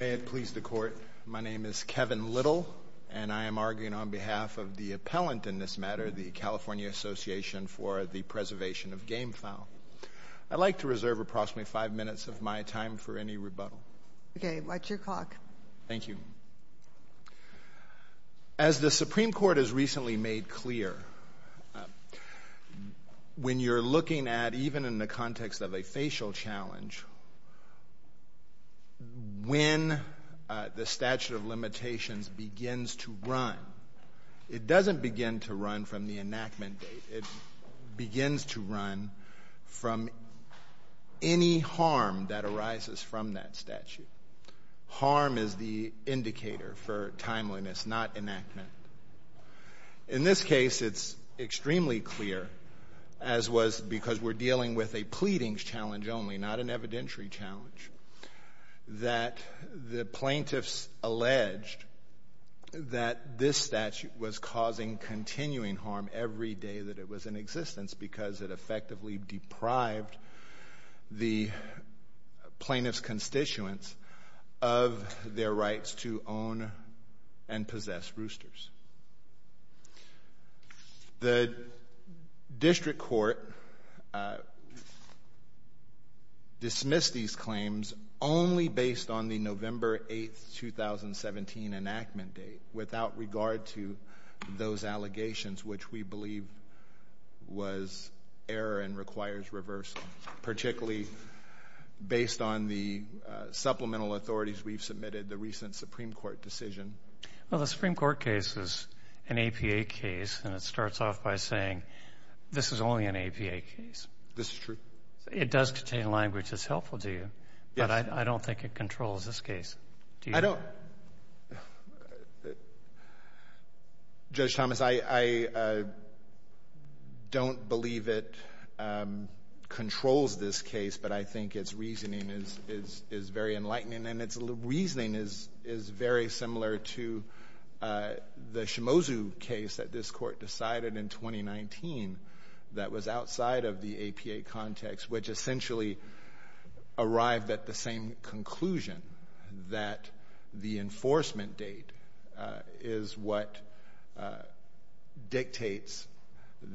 May it please the Court. My name is Kevin Little, and I am arguing on behalf of the appellant in this matter, the California Association for the Preservation of Gam v. I'd like to reserve approximately five minutes of my time for any rebuttal. Okay. Watch your clock. Thank you. As the Supreme Court has recently made clear, when you're looking at, even in the context of a facial challenge, when the statute of limitations begins to run, it doesn't begin to run from the enactment date. It begins to run from any harm that arises from that statute. Harm is the indicator for timeliness, not enactment. In this case, it's extremely clear, as was because we're dealing with a pleadings challenge only, not an evidentiary challenge, that the plaintiffs alleged that this statute was causing continuing harm every day that it was in existence because it effectively deprived the plaintiff's constituents of their rights to own and possess roosters. The district court dismissed these claims only based on the November 8, 2017, enactment date, without regard to those allegations, which we believe was error and requires reversal, particularly based on the supplemental authorities we've submitted, the recent Supreme Court decision. Well, the Supreme Court case is an APA case, and it starts off by saying this is only an APA case. This is true. It does contain language that's helpful to you, but I don't think it controls this case. I don't. Judge Thomas, I don't believe it controls this case, but I think its reasoning is very enlightening, and its reasoning is very similar to the Shimozu case that this court decided in 2019 that was outside of the APA context, which essentially arrived at the same conclusion that the enforcement date is what dictates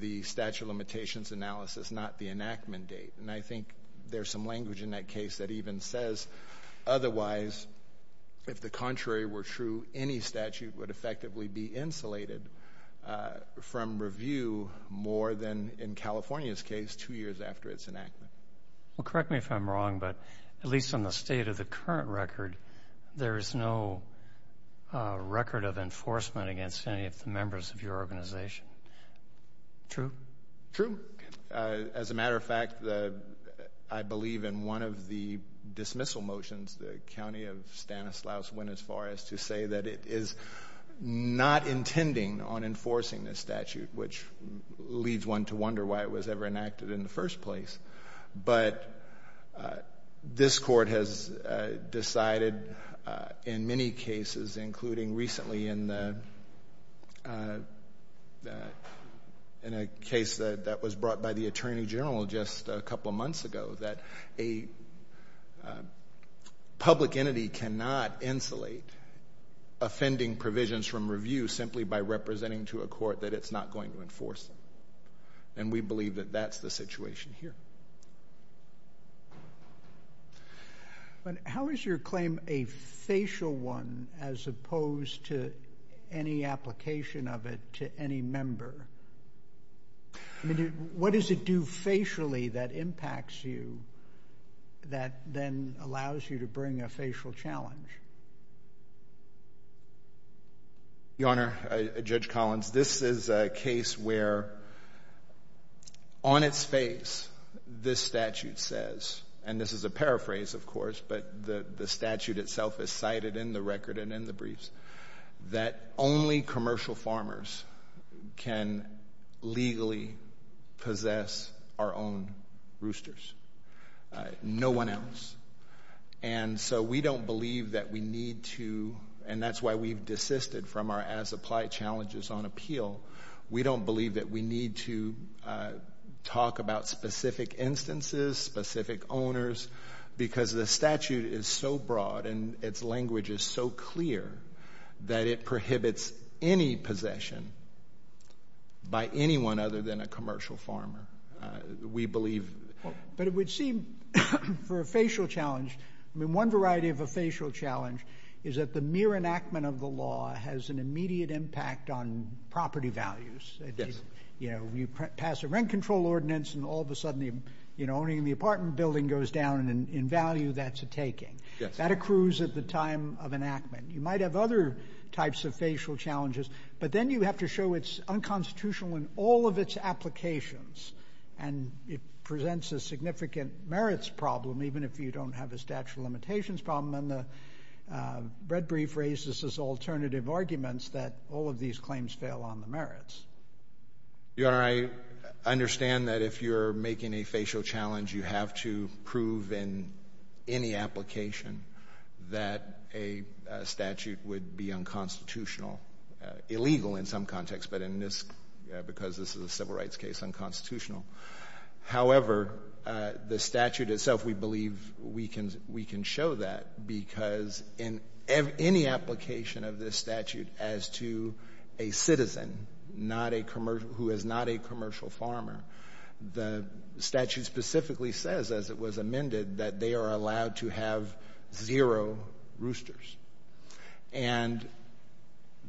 the statute of limitations analysis, not the enactment date. And I think there's some language in that case that even says, otherwise, if the contrary were true, any statute would effectively be insulated from review more than, in California's case, two years after its enactment. Well, correct me if I'm wrong, but at least on the state of the current record, there is no record of enforcement against any of the members of your organization. True? True. As a matter of fact, I believe in one of the dismissal motions, the county of Stanislaus went as far as to say that it is not intending on enforcing this statute, which leads one to wonder why it was ever enacted in the first place. But this court has decided in many cases, including recently in a case that was brought by the attorney general just a couple of months ago, that a public entity cannot insulate offending provisions from review simply by representing to a court that it's not going to enforce them. And we believe that that's the situation here. How is your claim a facial one as opposed to any application of it to any member? I mean, what does it do facially that impacts you that then allows you to bring a facial challenge? Your Honor, Judge Collins, this is a case where on its face this statute says, and this is a paraphrase, of course, but the statute itself is cited in the record and in the briefs, that only commercial farmers can legally possess our own roosters, no one else. And so we don't believe that we need to, and that's why we've desisted from our as-applied challenges on appeal, we don't believe that we need to talk about specific instances, specific owners, because the statute is so broad and its language is so clear that it prohibits any possession by anyone other than a commercial farmer, we believe. But it would seem for a facial challenge, I mean, one variety of a facial challenge is that the mere enactment of the law has an immediate impact on property values. Yes. You know, you pass a rent control ordinance and all of a sudden owning the apartment building goes down and in value that's a taking. Yes. That accrues at the time of enactment. You might have other types of facial challenges, but then you have to show it's unconstitutional in all of its applications, and it presents a significant merits problem, even if you don't have a statute of limitations problem, and the red brief raises this alternative argument that all of these claims fail on the merits. Your Honor, I understand that if you're making a facial challenge, you have to prove in any application that a statute would be unconstitutional, illegal in some contexts, but in this, because this is a civil rights case, unconstitutional. However, the statute itself, we believe we can show that, because in any application of this statute as to a citizen who is not a commercial farmer, the statute specifically says, as it was amended, that they are allowed to have zero roosters. And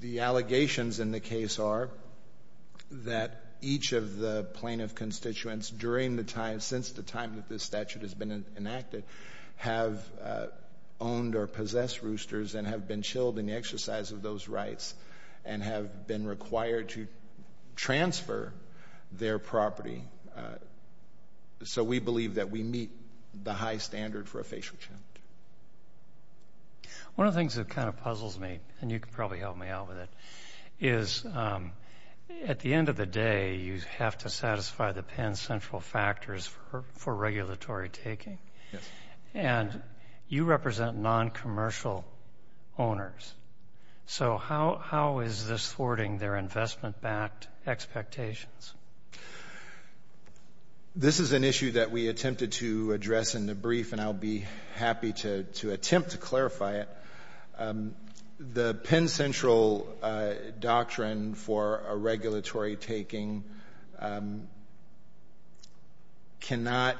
the allegations in the case are that each of the plaintiff constituents during the time, since the time that this statute has been enacted, have owned or possessed roosters and have been chilled in the exercise of those rights and have been required to transfer their property. So we believe that we meet the high standard for a facial challenge. One of the things that kind of puzzles me, and you can probably help me out with it, is at the end of the day, you have to satisfy the Penn central factors for regulatory taking. Yes. And you represent non-commercial owners. So how is this thwarting their investment-backed expectations? This is an issue that we attempted to address in the brief, and I'll be happy to attempt to clarify it. The Penn central doctrine for a regulatory taking cannot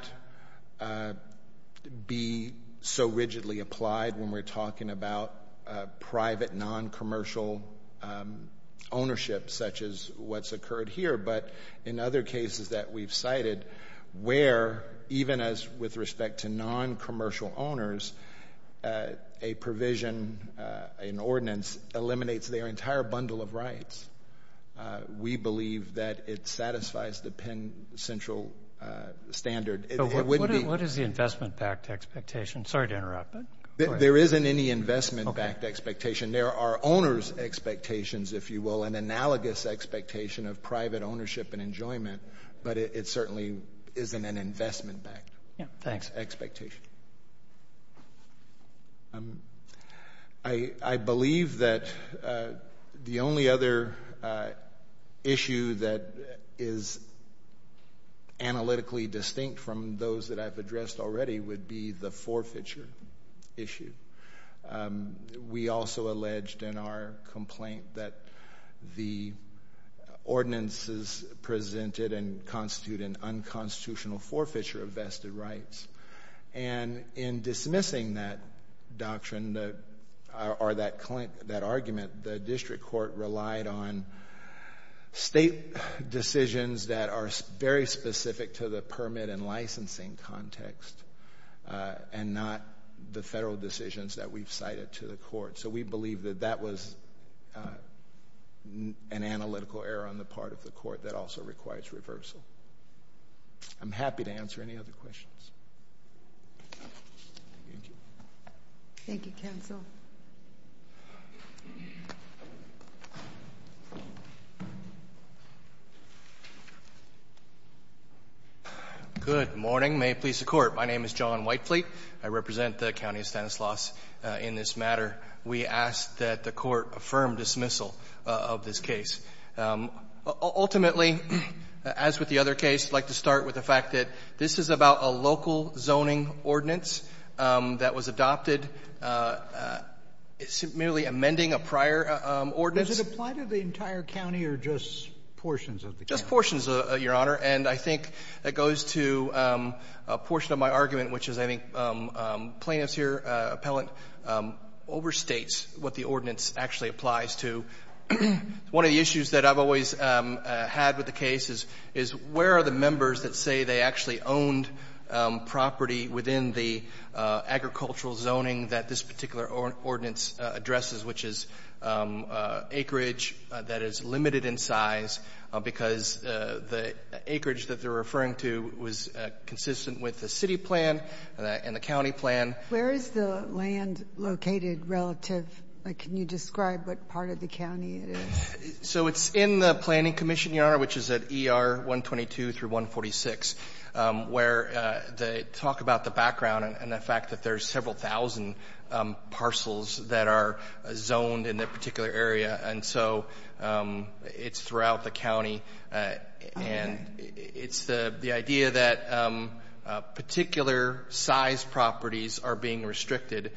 be so rigidly applied when we're talking about private non-commercial ownership, such as what's occurred here. But in other cases that we've cited, where even as with respect to non-commercial owners, a provision, an ordinance eliminates their entire bundle of rights. We believe that it satisfies the Penn central standard. What is the investment-backed expectation? Sorry to interrupt, but go ahead. There isn't any investment-backed expectation. There are owners' expectations, if you will, and analogous expectation of private ownership and enjoyment, but it certainly isn't an investment-backed expectation. I believe that the only other issue that is analytically distinct from those that I've addressed already would be the forfeiture issue. We also alleged in our complaint that the ordinances presented constitute an unconstitutional forfeiture of vested rights. And in dismissing that doctrine or that argument, the district court relied on state decisions that are very specific to the permit and licensing context and not the federal decisions that we've cited to the court. So we believe that that was an analytical error on the part of the court that also requires reversal. I'm happy to answer any other questions. Thank you, counsel. Good morning. May it please the Court. My name is John Whitefleet. I represent the County of Stanislaus in this matter. We ask that the Court affirm dismissal of this case. Ultimately, as with the other case, I'd like to start with the fact that this is about a local zoning ordinance that was adopted merely amending a prior ordinance. Does it apply to the entire county or just portions of the county? Just portions, Your Honor. And I think it goes to a portion of my argument, which is I think plaintiffs here, appellant, overstates what the ordinance actually applies to. One of the issues that I've always had with the case is where are the members that say they actually owned property within the agricultural zoning that this particular ordinance addresses, which is acreage that is limited in size because the acreage that they're referring to was consistent with the city plan and the county plan. Where is the land located relative? Like, can you describe what part of the county it is? So it's in the planning commission, Your Honor, which is at ER 122 through 146, where they talk about the background and the fact that there's several thousand parcels that are zoned in that particular area. And so it's throughout the county. And it's the idea that particular size properties are being restricted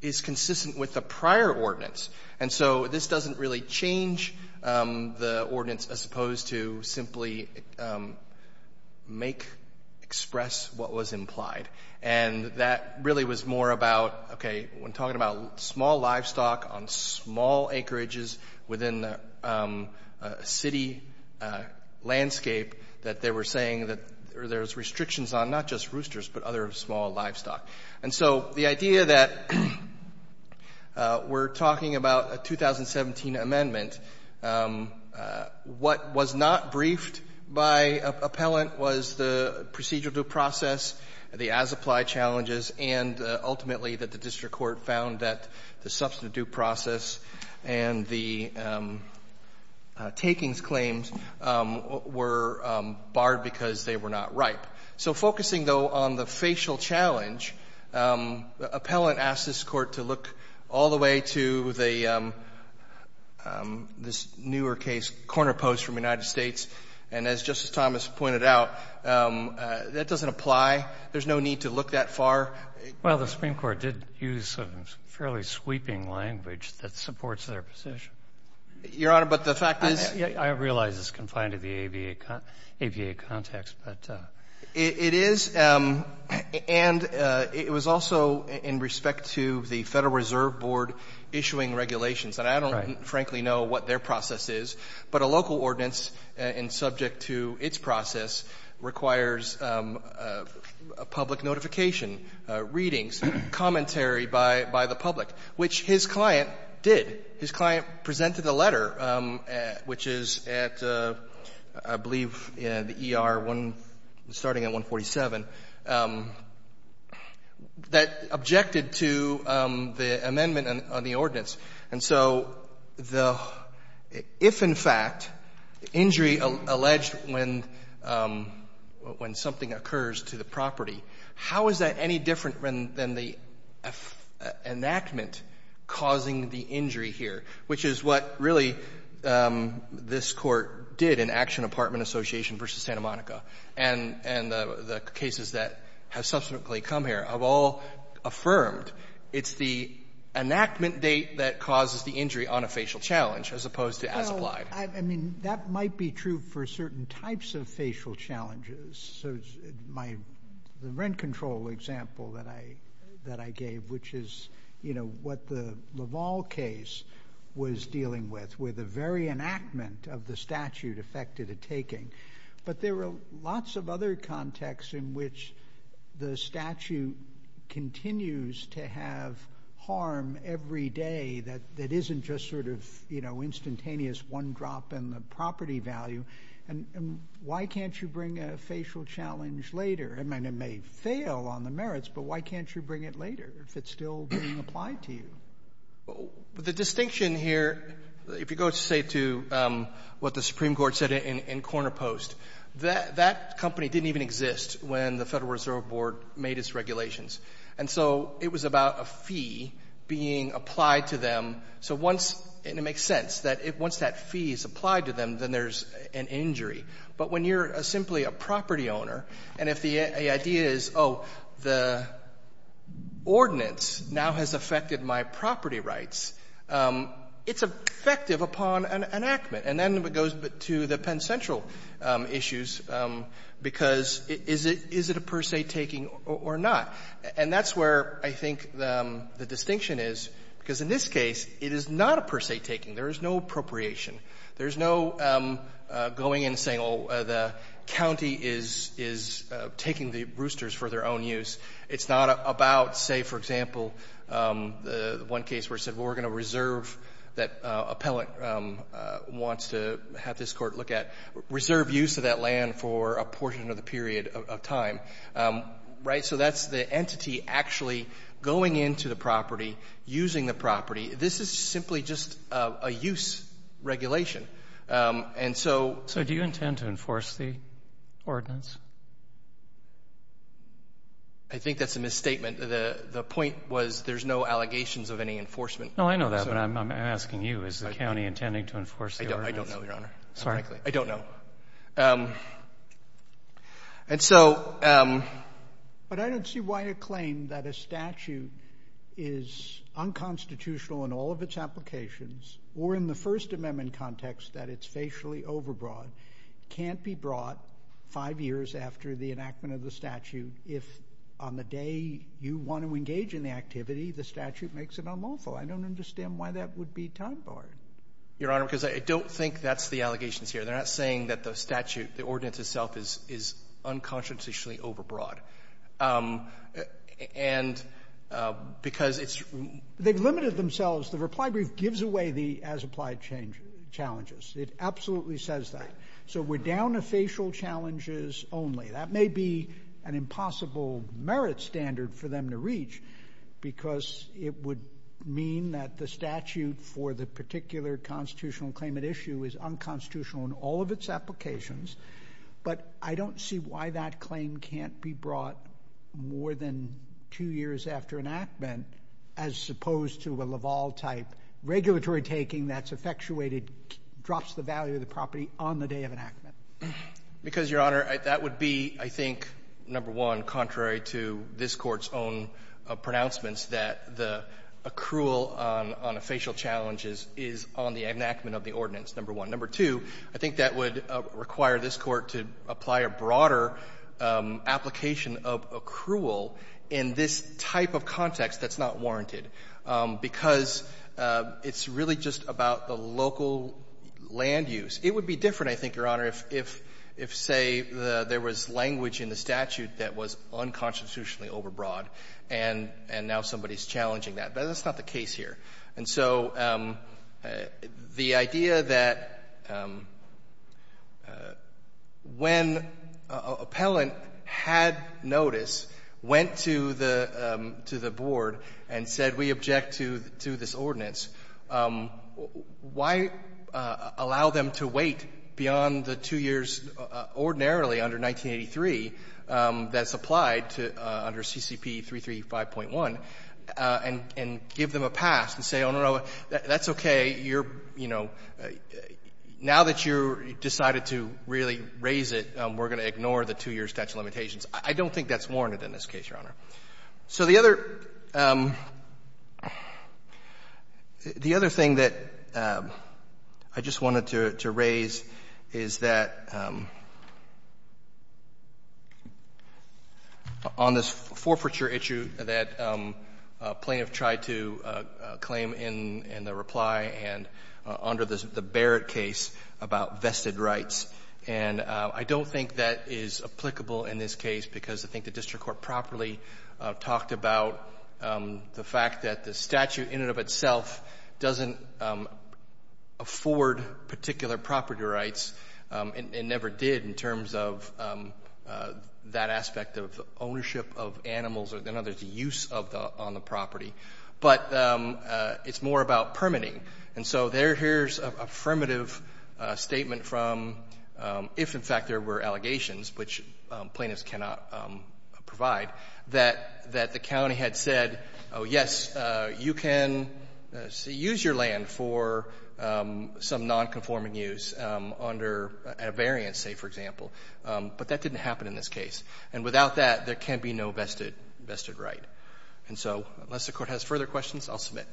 is consistent with the prior ordinance. And so this doesn't really change the ordinance as opposed to simply make express what was implied. And that really was more about, okay, when talking about small livestock on small acreages within the city landscape that they were saying that there's restrictions on not just roosters but other small livestock. And so the idea that we're talking about a 2017 amendment, what was not briefed by appellant was the procedural due process, the as-applied challenges, and ultimately that the district court found that the substantive due process and the takings claims were barred because they were not ripe. So focusing, though, on the facial challenge, the appellant asked this Court to look all the way to the newer case corner post from the United States. And as Justice Thomas pointed out, that doesn't apply. There's no need to look that far. Well, the Supreme Court did use some fairly sweeping language that supports their position. Your Honor, but the fact is — I realize it's confined to the ABA context, but — It is. And it was also in respect to the Federal Reserve Board issuing regulations. And I don't, frankly, know what their process is. But a local ordinance, subject to its process, requires a public notification, readings, commentary by the public, which his client did. His client presented a letter, which is at, I believe, the ER, starting at 147, that objected to the amendment on the ordinance. And so the — if, in fact, injury alleged when something occurs to the property, how is that any different than the enactment causing the injury here? Which is what, really, this Court did in Action Apartment Association v. Santa Monica. And the cases that have subsequently come here have all affirmed it's the enactment date that causes the injury on a facial challenge as opposed to as applied. Well, I mean, that might be true for certain types of facial challenges. The rent control example that I gave, which is, you know, what the Laval case was dealing with, where the very enactment of the statute affected a taking. But there are lots of other contexts in which the statute continues to have harm every day that isn't just sort of, you know, instantaneous one drop in the property value. And why can't you bring a facial challenge later? I mean, it may fail on the merits, but why can't you bring it later if it's still being applied to you? The distinction here, if you go, say, to what the Supreme Court said in Corner Post, that company didn't even exist when the Federal Reserve Board made its regulations. And so it was about a fee being applied to them. So once, and it makes sense, that once that fee is applied to them, then there's an injury. But when you're simply a property owner, and if the idea is, oh, the ordinance now has affected my property rights, it's effective upon an enactment. And then it goes to the Penn Central issues, because is it a per se taking or not? And that's where I think the distinction is, because in this case, it is not a per se taking. There is no appropriation. There's no going and saying, oh, the county is taking the roosters for their own use. It's not about, say, for example, the one case where it said, well, we're going to reserve that appellant wants to have this Court look at, reserve use of that land for a portion of the period of time. Right? So that's the entity actually going into the property, using the property. This is simply just a use regulation. And so do you intend to enforce the ordinance? I think that's a misstatement. The point was there's no allegations of any enforcement. No, I know that, but I'm asking you. Is the county intending to enforce the ordinance? I don't know, Your Honor. I don't know. And so — But I don't see why a claim that a statute is unconstitutional in all of its applications or in the First Amendment context that it's facially overbroad can't be brought five years after the enactment of the statute if on the day you want to engage in the activity, the statute makes it unlawful. I don't understand why that would be time-barred. Your Honor, because I don't think that's the allegations here. They're not saying that the statute, the ordinance itself, is unconstitutionally overbroad. And because it's — They've limited themselves. The reply brief gives away the as-applied challenges. It absolutely says that. So we're down to facial challenges only. That may be an impossible merit standard for them to reach because it would mean that the statute for the particular constitutional claim at issue is unconstitutional in all of its applications. But I don't see why that claim can't be brought more than two years after enactment as opposed to a Laval-type regulatory taking that's effectuated, drops the value of the property on the day of enactment. Because, Your Honor, that would be, I think, number one, contrary to this Court's own pronouncements that the accrual on a facial challenge is on the enactment of the ordinance, number one. Number two, I think that would require this Court to apply a broader application of accrual in this type of context that's not warranted, because it's really just about the local land use. It would be different, I think, Your Honor, if, say, there was language in the statute that was unconstitutionally overbroad, and now somebody is challenging that. But that's not the case here. And so the idea that when an appellant had notice, went to the board, and said, we object to this ordinance, why allow them to wait beyond the two years ordinarily under 1983 that's applied to under CCP 335.1, and give them a pass and say, oh, no, no, that's okay, you're, you know, now that you've decided to really raise it, we're going to ignore the two-year statute of limitations. I don't think that's warranted in this case, Your Honor. So the other thing that I just wanted to raise is that on this forfeiture issue that plaintiff tried to claim in the reply and under the Barrett case about vested rights, and I don't think that is applicable in this case, because I think the district court properly talked about the fact that the statute in and of itself doesn't afford particular property rights, and never did in terms of that aspect of ownership of animals or the use on the property. But it's more about permitting. And so here's an affirmative statement from if, in fact, there were allegations, which plaintiffs cannot provide, that the county had said, oh, yes, you can use your land for some nonconforming use under a variance, say, for example. But that didn't happen in this case. And without that, there can be no vested right. And so unless the Court has further questions, I'll submit.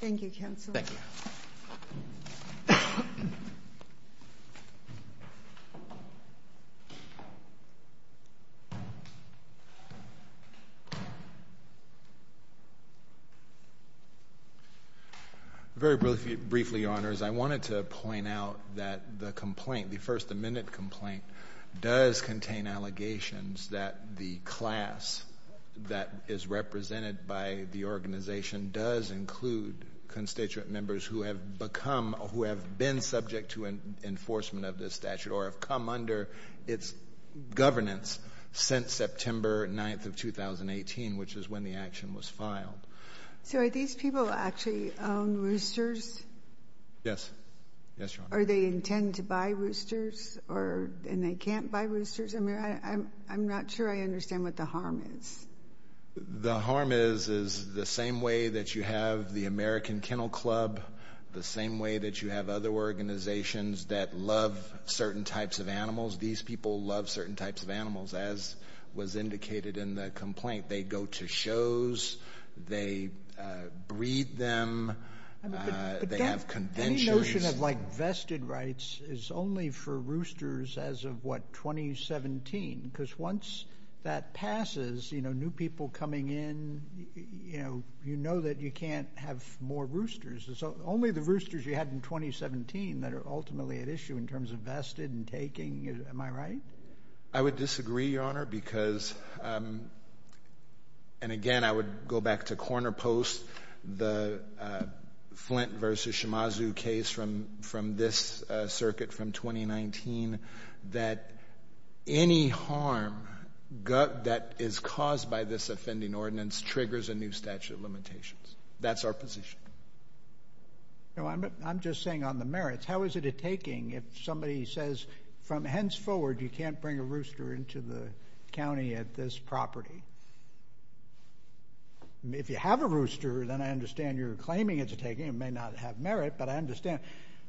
Thank you, counsel. Thank you. Very briefly, Your Honors, I wanted to point out that the complaint, the First Amendment complaint, does contain allegations that the class that is represented by the organization does include constituent members who have become, who have been subject to enforcement of this statute or have come under its governance since September 9th of 2018, which is when the action was filed. So are these people actually on roosters? Yes. Yes, Your Honor. Or they intend to buy roosters, and they can't buy roosters? I mean, I'm not sure I understand what the harm is. The harm is, is the same way that you have the American Kennel Club, the same way that you have other organizations that love certain types of animals, these people love certain types of animals, as was indicated in the complaint. They go to shows, they breed them, they have conventions. Any notion of, like, vested rights is only for roosters as of, what, 2017? Because once that passes, you know, new people coming in, you know, you know that you can't have more roosters. So only the roosters you had in 2017 that are ultimately at issue in terms of vested and taking, am I right? I would disagree, Your Honor, because, and again, I would go back to Corner Post, the Flint v. Shimazu case from this circuit from 2019, that any harm that is caused by this offending ordinance triggers a new statute of limitations. That's our position. No, I'm just saying on the merits, how is it a taking if somebody says, from henceforward, you can't bring a rooster into the county at this property? I mean, if you have a rooster, then I understand you're claiming it's a taking. It may not have merit, but I understand.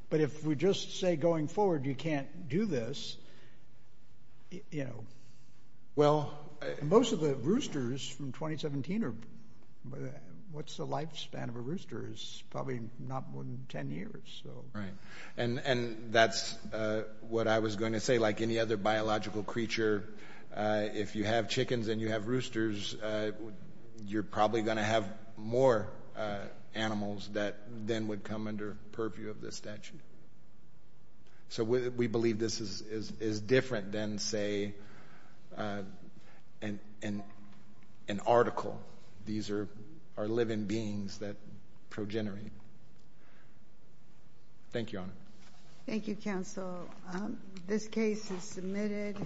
But if we just say, going forward, you can't do this, you know, and most of the roosters from 2017 are, what's the lifespan of a rooster is probably not more than 10 years, so. Right. And that's what I was going to say. Like any other biological creature, if you have chickens and you have roosters, you're probably going to have more animals that then would come under purview of this statute. So we believe this is different than, say, an article. These are living beings that progenerate. Thank you, Your Honor. Thank you, Counsel. This case is submitted.